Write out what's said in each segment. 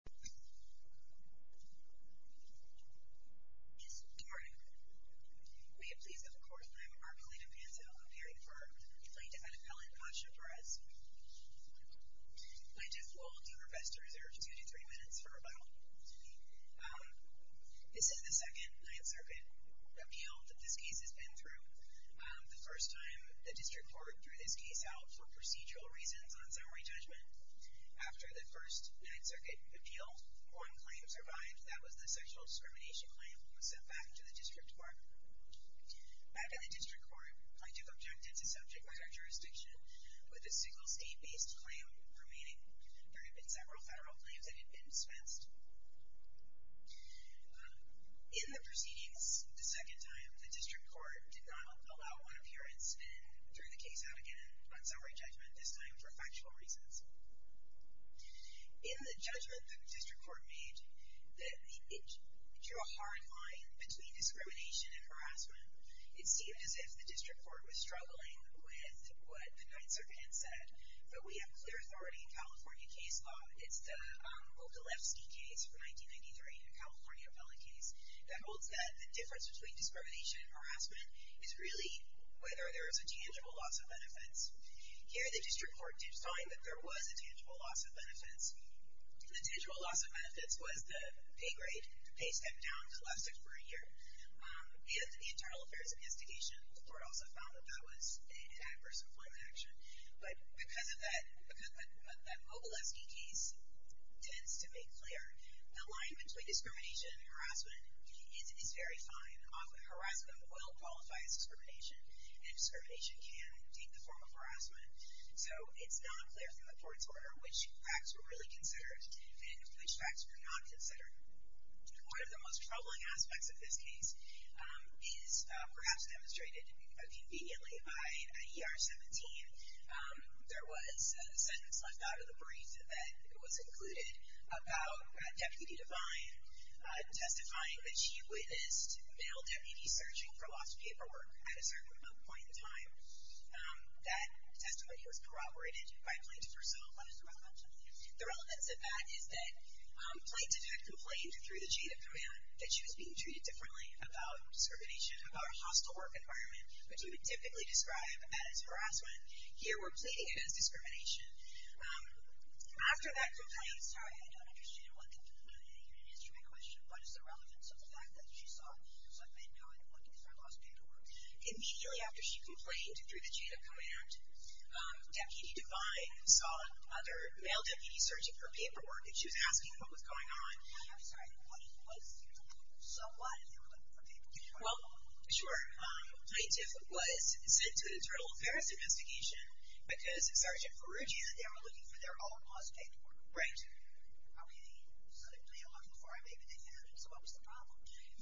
P.A. Good morning. May it please the Court, I am Marcolina Panto, appearing for Alameda County Att. P.A. Asha Perez. I do will do request to reserve 2-3 minutes for review. This is the second 9th Circuit appeal that this case has been through. The first time the district court threw this case out for procedural reasons on summary judgment. In the appeal, one claim survived. That was the sexual discrimination claim that was sent back to the district court. Back in the district court, I took objectives as subject matter jurisdiction with a single state-based claim remaining. There had been several federal claims that had been dispensed. In the proceedings, the second time, the district court did not allow one appearance and threw the case out again on summary judgment, this time for factual reasons. In the judgment that the district court made, it drew a hard line between discrimination and harassment. It seemed as if the district court was struggling with what the 9th Circuit had said, but we have clear authority in California case law. It's the Ogilevsky case from 1993, a California appellate case, that holds that the difference between discrimination and harassment is really whether there is a tangible loss of benefits. Here, the district court did find that there was a tangible loss of benefits. The tangible loss of benefits was the pay step down to less than a year, and the Internal Affairs Investigation Court also found that that was an adverse employment action. But because that Ogilevsky case tends to make clear, the line between discrimination and harassment is very fine. Harassment will qualify as discrimination, and discrimination can take the form of harassment. So it's not clear from the court's order which facts were really considered and which facts were not considered. One of the most troubling aspects of this case is perhaps demonstrated conveniently by ER 17. There was a sentence left out of the brief that was included about Deputy Devine testifying that she witnessed male deputies searching for lost paperwork at a certain point in time. That testimony was corroborated by Plaintiff herself. What is the relevance of that? The relevance of that is that Plaintiff had complained through the chain of command that she was being treated differently about discrimination, about a hostile work environment, which we would typically describe as harassment. Here we're pleading it as discrimination. After that complaint, I'm sorry, I don't understand what the point of that is, you didn't answer my question. What is the relevance of the fact that she saw certain men going looking for lost paperwork? Immediately after she complained through the chain of command, Deputy Devine saw other male deputies searching for paperwork, and she was asking what was going on. I'm sorry, what was, so what if they were looking for paperwork? Well, sure, Plaintiff was sent to the Internal Affairs Investigation because Sergeant Perugia and they were looking for their own lost paperwork. Right. Okay, so they were looking for it, but they couldn't find it. So what was the problem?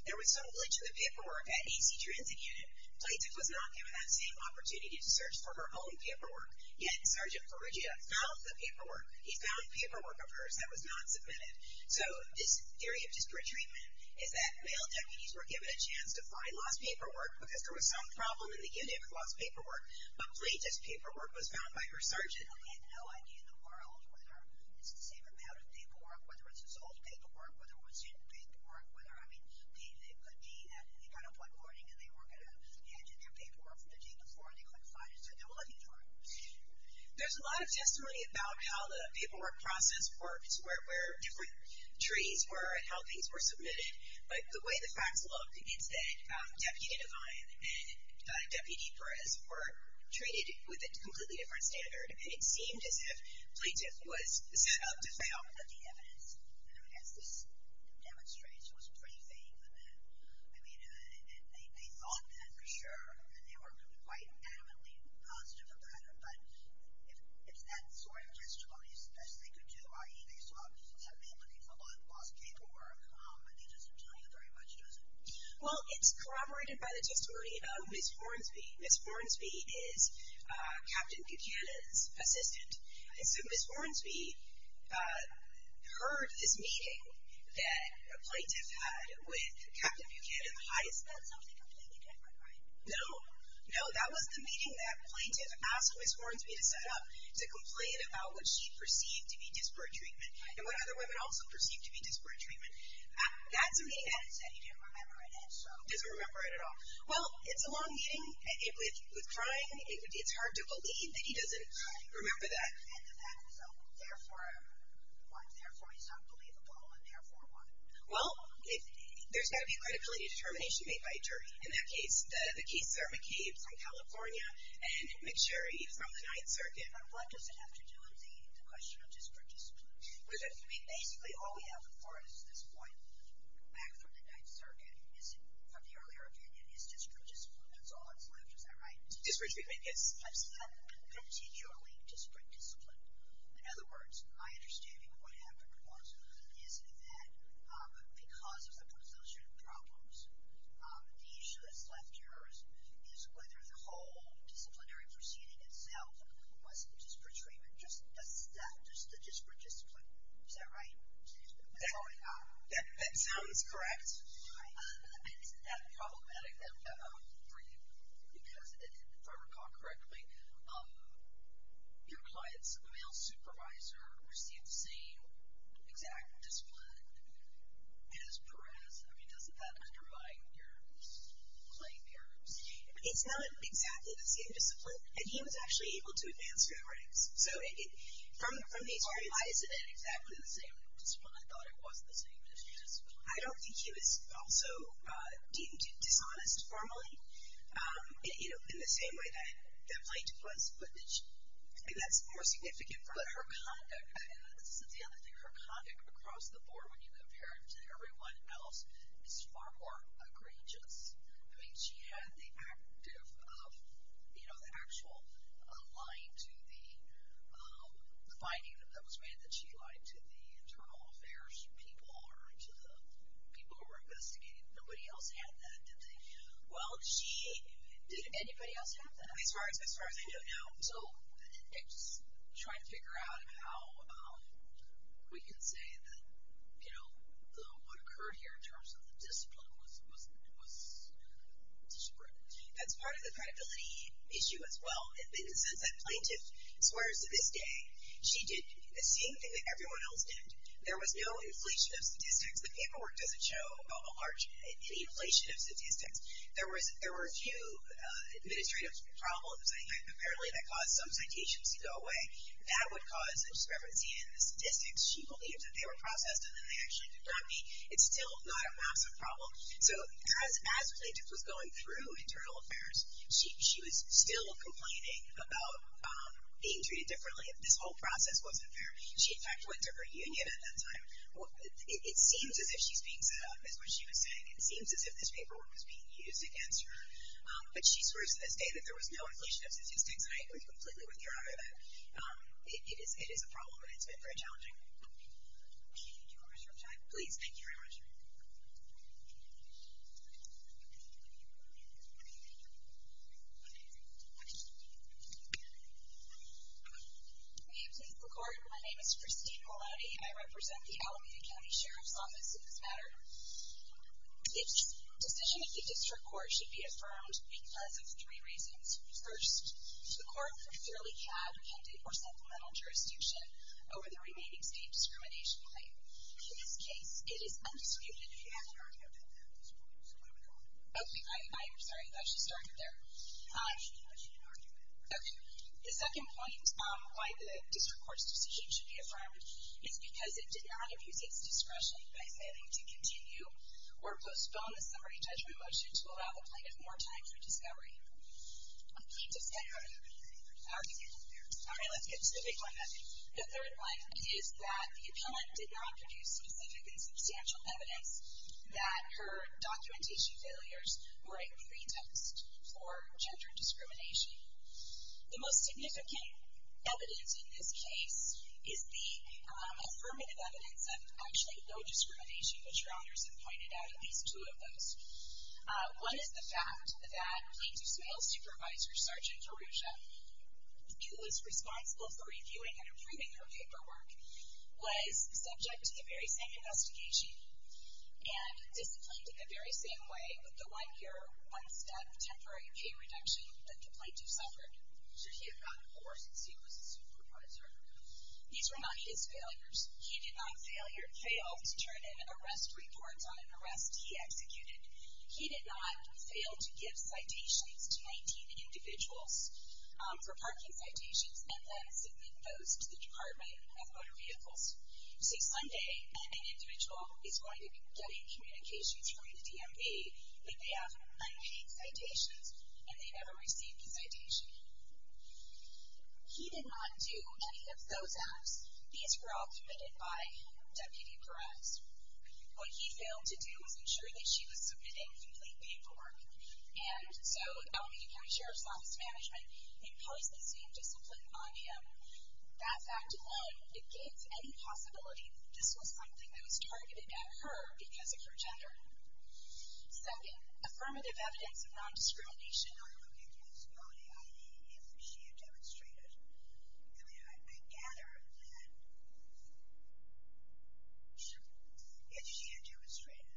There was some glitch in the paperwork at AC Transit Unit. Plaintiff was not given that same opportunity to search for her own paperwork. Yet Sergeant Perugia found the paperwork. He found paperwork of hers that was not submitted. So this theory of disparate treatment is that male deputies were given a chance to find lost paperwork because there was some problem in the unit with lost paperwork, but Plaintiff's paperwork was found by her sergeant. I have no idea in the world whether it's the same amount of paperwork, whether it's his old paperwork, whether it was his new paperwork, whether, I mean, it could be that they got up one morning and they were going to hand in their paperwork from the day before and they couldn't find it, so they were looking for it. There's a lot of testimony about how the paperwork process works, where different trees were and how things were submitted, but the way the facts look, it's that Deputy Devine and Deputy Perez were treated with a completely different standard, and it seemed as if Plaintiff was set up to fail. But the evidence, I mean, as this demonstrates, was pretty faint for them. I mean, they thought that for sure, and they were quite adamantly positive about it, but if that sort of testimony is the best they could do, i.e. they saw that man looking for lost paperwork, I think it doesn't tell you very much, does it? Well, it's corroborated by the testimony of Ms. Hornsby. Ms. Hornsby is Captain Buchanan's assistant, and so Ms. Hornsby heard this meeting that Plaintiff had with Captain Buchanan, the highest... That's something completely different, right? No. No, that was the meeting that Plaintiff asked Ms. Hornsby to set up to complain about what she perceived to be disparate treatment and what other women also perceived to be disparate treatment. That's a meeting that... He said he didn't remember it, and so... He doesn't remember it at all. Well, it's a long meeting. It was trying. It's hard to believe that he doesn't remember that. And the fact is, therefore, he's unbelievable, and therefore what? Well, there's got to be a credibility determination made by a jury. In that case, the cases are McCabe from California and McSherry from the Ninth Circuit. But what does it have to do with the question of disparate treatment? Basically, all we have for us at this point, back from the Ninth Circuit, is, from the earlier opinion, is disparate discipline. That's all that's left. Is that right? Disparate treatment, yes. I've said continually disparate discipline. In other words, my understanding of what happened was, is that because of the position problems, the issue that's left here is whether the whole disciplinary proceeding itself was disparate Is that right? That sounds correct. Is that problematic for you? Because, if I recall correctly, your client's male supervisor received the same exact discipline as Perez. I mean, doesn't that undermine your claim here? It's not exactly the same discipline. And he was actually able to advance through the ranks. So, from these arguments... Why isn't it exactly the same discipline? I thought it was the same discipline. I don't think he was also dishonest formally, in the same way that Blank was. I think that's more significant for her. But her conduct, and this is the other thing, her conduct across the board, when you compare it to everyone else, is far more egregious. I mean, she had the actual lying to the, the finding that was made that she lied to the internal affairs people, or to the people who were investigating. Nobody else had that, did they? Well, she... Did anybody else have that? As far as I know, no. So, I'm just trying to figure out how we can say that, you know, what occurred here in terms of the discipline was, was, you know, discreet. That's part of the credibility issue as well. In the sense that plaintiff swears to this day, she did the same thing that everyone else did. There was no inflation of statistics. The paperwork doesn't show a large, any inflation of statistics. There was, there were a few administrative problems, apparently, that caused some citations to go away. That would cause discrepancy in the statistics. She believed that they were processed, and then they actually did not meet. It's still not a massive problem. So, as plaintiff was going through internal affairs, she was still complaining about being treated differently. This whole process wasn't fair. She, in fact, went to her union at that time. It seems as if she's being set up, is what she was saying. It seems as if this paperwork was being used against her. But she swears to this day that there was no inflation of statistics. And I agree completely with your argument. It is, it is a problem, and it's been very challenging. Thank you very much for your time. Please. Thank you very much. May it please the Court. My name is Christine Mulati. I represent the Alameda County Sheriff's Office in this matter. The decision of the District Court should be affirmed because of three reasons. First, the Court clearly had intended for supplemental jurisdiction over the remaining State Discrimination Claim. In this case, it is undisputed. You have an argument. So move it on. Okay. I'm sorry. I thought she started there. No, she did not. She had an argument. Okay. The second point on why the District Court's decision should be affirmed is because it did not abuse its discretion by saying to continue or postpone the summary judgment motion to allow the plaintiff more time for discovery. Plaintiff's time? No, no, no, no, no. Okay. All right. Let's get to the big one, I think. The third one is that the appellant did not produce specific and substantial evidence that her documentation failures were a pretext for gender discrimination. The most significant evidence in this case is the affirmative evidence of actually no discrimination, which your honors have pointed out at least two of those. One is the fact that Plaintiff's male supervisor, Sergeant Arusha, who was responsible for reviewing and approving her paperwork, was subject to the very same investigation and disciplined in the very same way with the one-year, one-step temporary pay reduction that the plaintiff suffered should he have gotten court since he was a supervisor. These were not his failures. He did not fail to turn in arrest reports on an arrest he executed. He did not fail to give citations to 19 individuals for parking citations and then submit those to the Department of Motor Vehicles. You see, Sunday, an individual is going to get a communication through the DMV and they have 19 citations and they never receive the citation. He did not do any of those apps. These were all committed by Deputy Perez. What he failed to do was ensure that she was submitting complete paperwork. And so LAPD Sheriff's Office Management imposed the same discipline on him. That fact alone, it gave any possibility this was something that was targeted at her because of her gender. Second, affirmative evidence of non-discrimination. The question I'm looking for is, if she had demonstrated, I mean, I gather that if she had demonstrated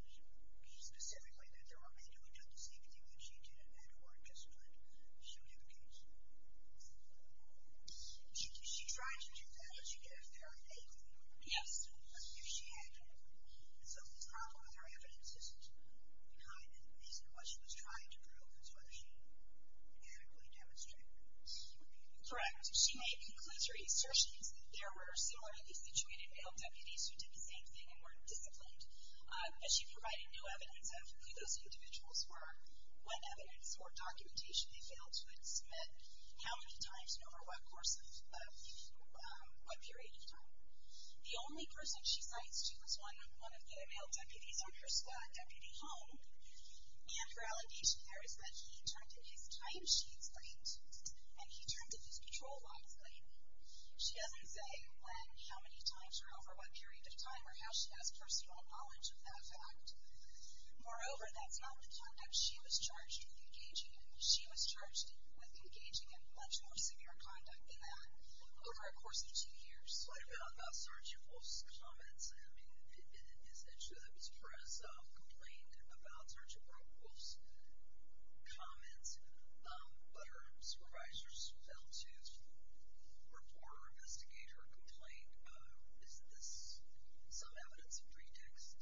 specifically that there were men who had done the same thing that she did and had court-disciplined, she would have a case. She tried to do that, but she didn't have a very big one. Yes. If she had done it. And so the problem with her evidence is behind it. What she was trying to prove is whether she adequately demonstrated. Correct. She may conclude her assertions that there were similarly situated male deputies who did the same thing and weren't disciplined. But she provided no evidence of who those individuals were, what evidence or documentation they failed to submit, how many times and over what period of time. The only person she cites was one of the male deputies on her squad, Deputy Holm, and her allegation there is that he turned in his time sheets late and he turned in his patrol logs late. She doesn't say when, how many times or over what period of time or how she has personal knowledge of that fact. Moreover, that's not the conduct she was charged with engaging in. She was charged with engaging in much more severe conduct than that over a course of two years. There was a slight amount about Sergeant Wolf's comments. I mean, it's true that Ms. Perez complained about Sergeant Wolf's comments, but her supervisors failed to report or investigate her complaint. Is this some evidence of pretext?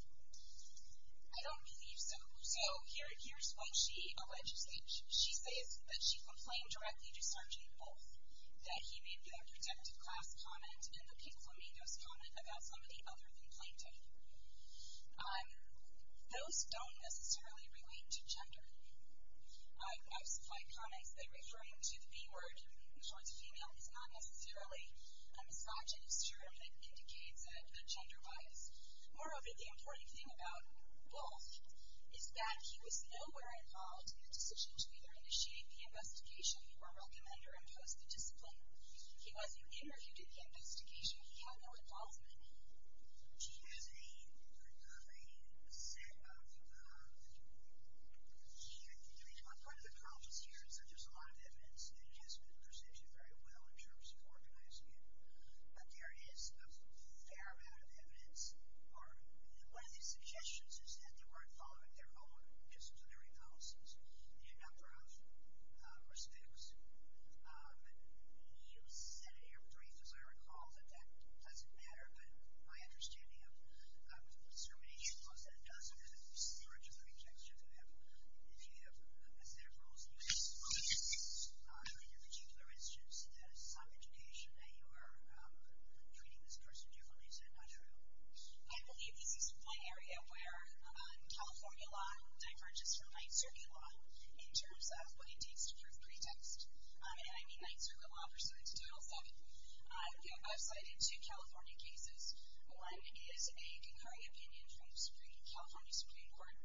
I don't believe so. So here's what she alleges. She says that she complained directly to Sergeant Wolf that he made the protective class comment and the pink flamingos comment about somebody other than plaintiff. Those don't necessarily relate to gender. I've supplied comments that referring to the B word towards female is not necessarily a misogynist term that indicates a gender bias. Moreover, the important thing about Wolf is that he was nowhere involved in the decision to either initiate the investigation or recommend or impose the discipline. He wasn't interviewed in the investigation. He had no involvement. She has a set of, I mean, part of the problem here is that there's a lot of evidence that he hasn't been presented very well in terms of organizing it, but there is a fair amount of evidence. One of the suggestions is that they weren't following their own disciplinary policies in a number of respects. You said in your brief, as I recall, that that doesn't matter, but my understanding of discrimination was that it does matter in terms of the pretext. If you have a misdemeanor, and you expose it in your particular instance, that is some indication that you are treating this person differently. Is that not true? I believe this is one area where California law diverges from NYSERDA law in terms of what it takes to prove pretext. And I mean NYSERDA law pursuant to Title VII. I've cited two California cases. One is a concurrent opinion from the California Supreme Court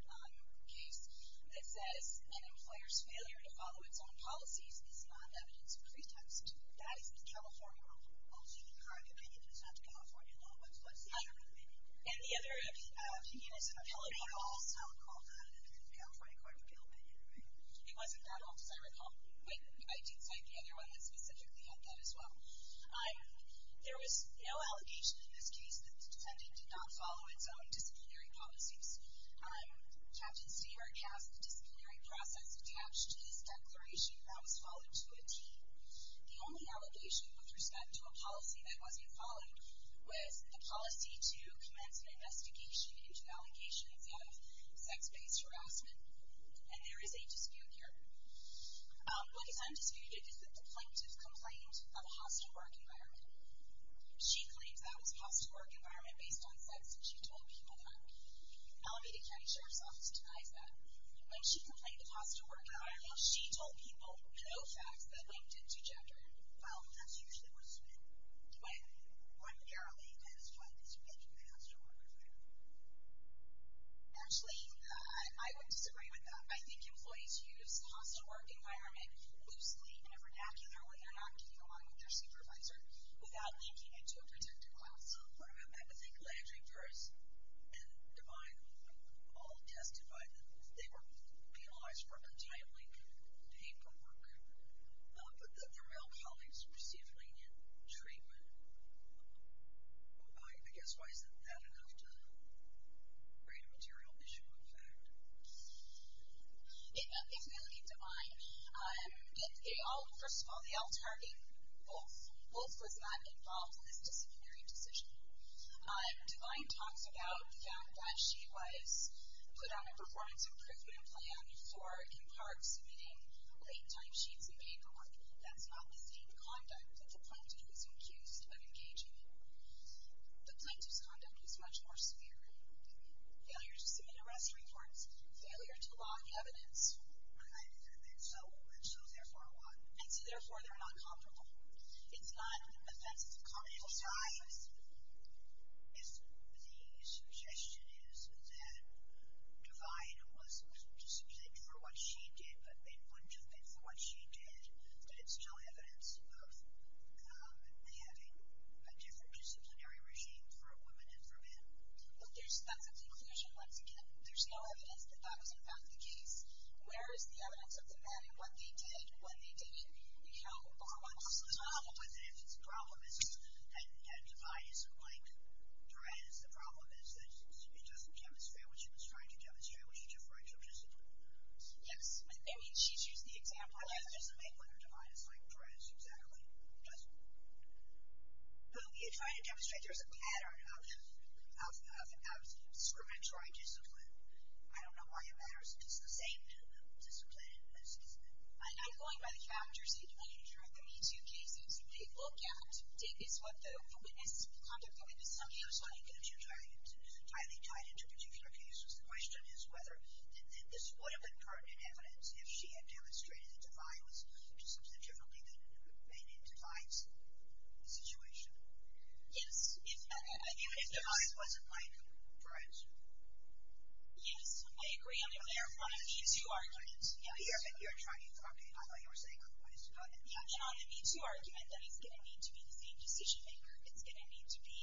case that says an employer's failure to follow its own policies is not evidence of pretext. That is the California law. So the concurrent opinion is not the California law. What's the other opinion? And the other opinion is an opinion also called out in the California Court of Appeal opinion. It wasn't that one, as I recall. I did cite the other one that specifically had that as well. There was no allegation in this case that the defendant did not follow its own disciplinary policies. Captain Seabrook has the disciplinary process attached to this declaration that was followed to a T. The only allegation with respect to a policy that wasn't followed was the policy to commence an investigation into allegations of sex-based harassment. And there is a dispute here. What is undisputed is the plaintiff's complaint of a hostile work environment. She claims that was a hostile work environment based on sex, and she told people that. Alameda County Sheriff's Office denies that. When she complained of a hostile work environment, she told people no facts that linked it to gender. Well, that's usually what's been claimed. Primarily, that is what is linked to the hostile work environment. Actually, I would disagree with that. I think employees use the hostile work environment loosely in a vernacular when they're not getting along with their supervisor without linking it to a protected class. What about that? I think Landry, Burris, and Devine all testified that they were penalized for content-linked paperwork. But their male colleagues received lenient treatment. I guess, why isn't that enough to create a material issue of fact? If we look at Devine, first of all, they all target both. Both was not involved in this disciplinary decision. Devine talks about the fact that she was put on a performance improvement plan for, in part, submitting late-time sheets of paperwork. That's not the same conduct that the plaintiff is accused of engaging in. The plaintiff's conduct was much more severe. Failure to submit arrest reports. Failure to log evidence. And so, therefore, what? And so, therefore, they're not comparable. It's not an offense of comparable size. If the suggestion is that Devine was disciplined for what she did, but they wouldn't have been for what she did, then it's no evidence of having a different disciplinary regime for women and for men. Well, that's a conclusion, once again. There's no evidence that that was, in fact, the case. Where is the evidence of the men and what they did? What they didn't? The problem is that Devine isn't like Duranis. The problem is that she doesn't demonstrate what she was trying to demonstrate when she deferred to a discipline. Yes. I mean, she's used the example. I mean, she doesn't make women like Duranis exactly. She doesn't. You're trying to demonstrate there's a pattern of discriminatory discipline. I don't know why it matters. It's the same discipline. I'm not going by the factors. I want you to try the Me Too cases. They look at, take this what the witness, conduct the witness, somebody else's argument. It's entirely tied into particular cases. The question is whether this would have been pertinent evidence if she had demonstrated that Devine was doing something differently than made in Devine's situation. Yes. Even if Devine wasn't like Duranis. Yes. I agree. I'm in their front of Me Too argument. Yes. You're trying to talk it. I thought you were saying otherwise. Yes. And on the Me Too argument, then it's going to need to be the same decision maker. It's going to need to be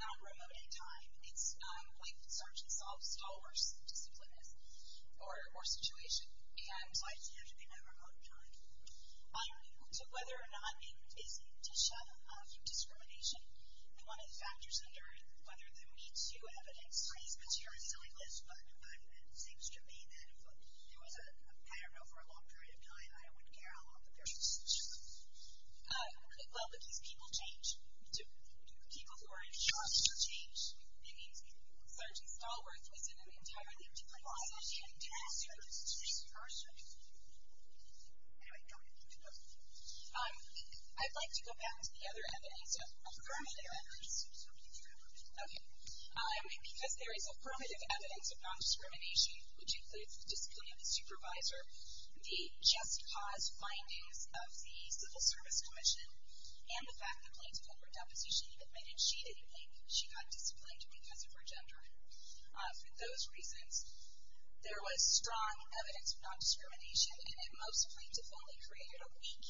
not remote in time. It's like search and solve, it's all worse than discipline or situation. Why does it have to be not remote in time? To whether or not it is indicative of discrimination. And one of the factors under whether the Me Too evidence seems to me that if there was a, I don't know, for a long period of time, I wouldn't care how long the person's situation was. Well, because people change. People who are in charge change. I mean, Sgt. Stallworth was in an entirely different position. I didn't ask you. I'm just a person. Anyway, go ahead. I'd like to go back to the other evidence, affirmative evidence. Okay. Because there is affirmative evidence of nondiscrimination, which includes the discipline of the supervisor, the just cause findings of the Civil Service Commission, and the fact that plaintiff had her deposition admitted she didn't think she got disciplined because of her gender. For those reasons, there was strong evidence of nondiscrimination, and it most plaintiff only created a weak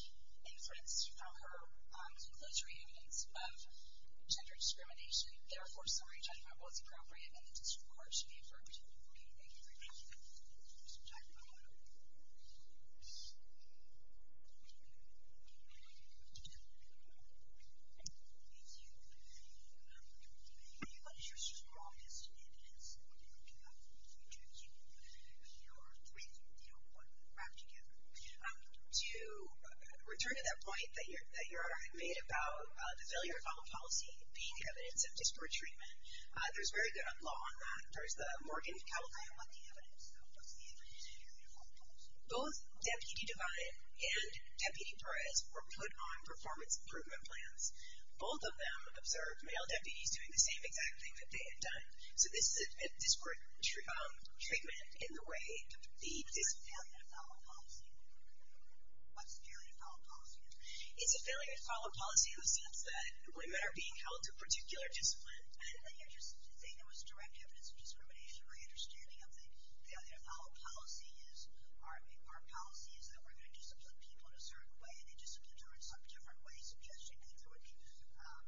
inference from her conclusory evidence of gender discrimination. Therefore, summary judgment was appropriate and the district court should be affirmed. Okay, thank you very much. We have some time for one more. Thank you. When you look at your strongest evidence, what do you do with it? What do you wrap it together? To return to that point that you already made about the failure of common policy being evidence of disparate treatment, there's very good law on that. There's the Morgan-Cowell claim on the evidence. What's the evidence in your uniform policy? Both Deputy Devine and Deputy Perez were put on performance improvement plans. Both of them observed male deputies doing the same exact thing that they had done. So this is a disparate treatment in the way of the failure of common policy. What's the failure of common policy? It's a failure of common policy in the sense that women are being held to a particular discipline. And you're just saying there was direct evidence of discrimination. My understanding of the Othello policy is our policy is that we're going to discipline people in a certain way, and they discipline them in some different way, suggesting that there would be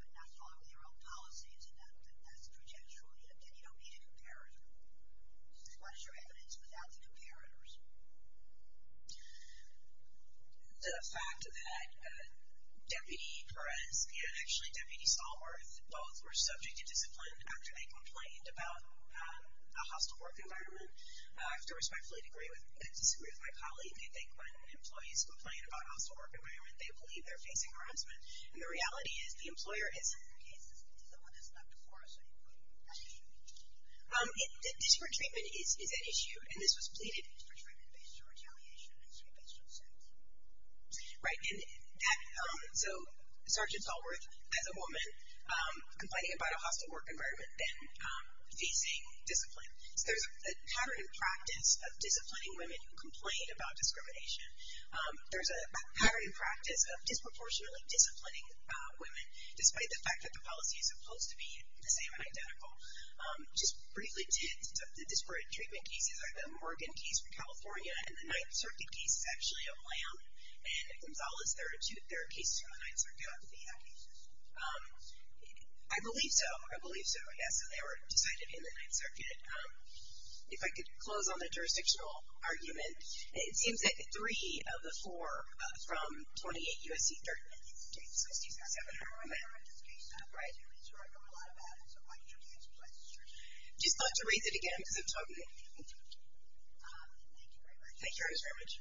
not following their own policies, and that's prejudicial, and you don't need a comparator. What is your evidence without the comparators? The fact that Deputy Perez and actually Deputy Stallworth both were subject to discipline after they complained about a hostile work environment. I have to respectfully disagree with my colleague. They think when employees complain about a hostile work environment, they believe they're facing harassment. And the reality is, the employer is in their cases, and someone has left the forest, so you put them in detention. Disparate treatment is at issue, and this was pleaded. Disparate treatment based on retaliation and treatment based on sentence. Right, and so Sergeant Stallworth, as a woman, complaining about a hostile work environment, then facing discipline. So there's a pattern in practice of disciplining women who complain about discrimination. There's a pattern in practice of disproportionately disciplining women, despite the fact that the policy is supposed to be the same and identical. Just briefly, the disparate treatment cases are the Morgan case from California, and the Ninth Circuit case is actually a blam. And Gonzalez, there are cases from the Ninth Circuit out in the United States. I believe so, I believe so, yes, and they were decided in the Ninth Circuit. If I could close on the jurisdictional argument, it seems that three of the four from 28 U.S.C. 13 states, so 67 are women. Right, and these are a lot of them, so I'll introduce one. I just want to raise it again, because I'm talking to a few people. Thank you very much. Thank you very much.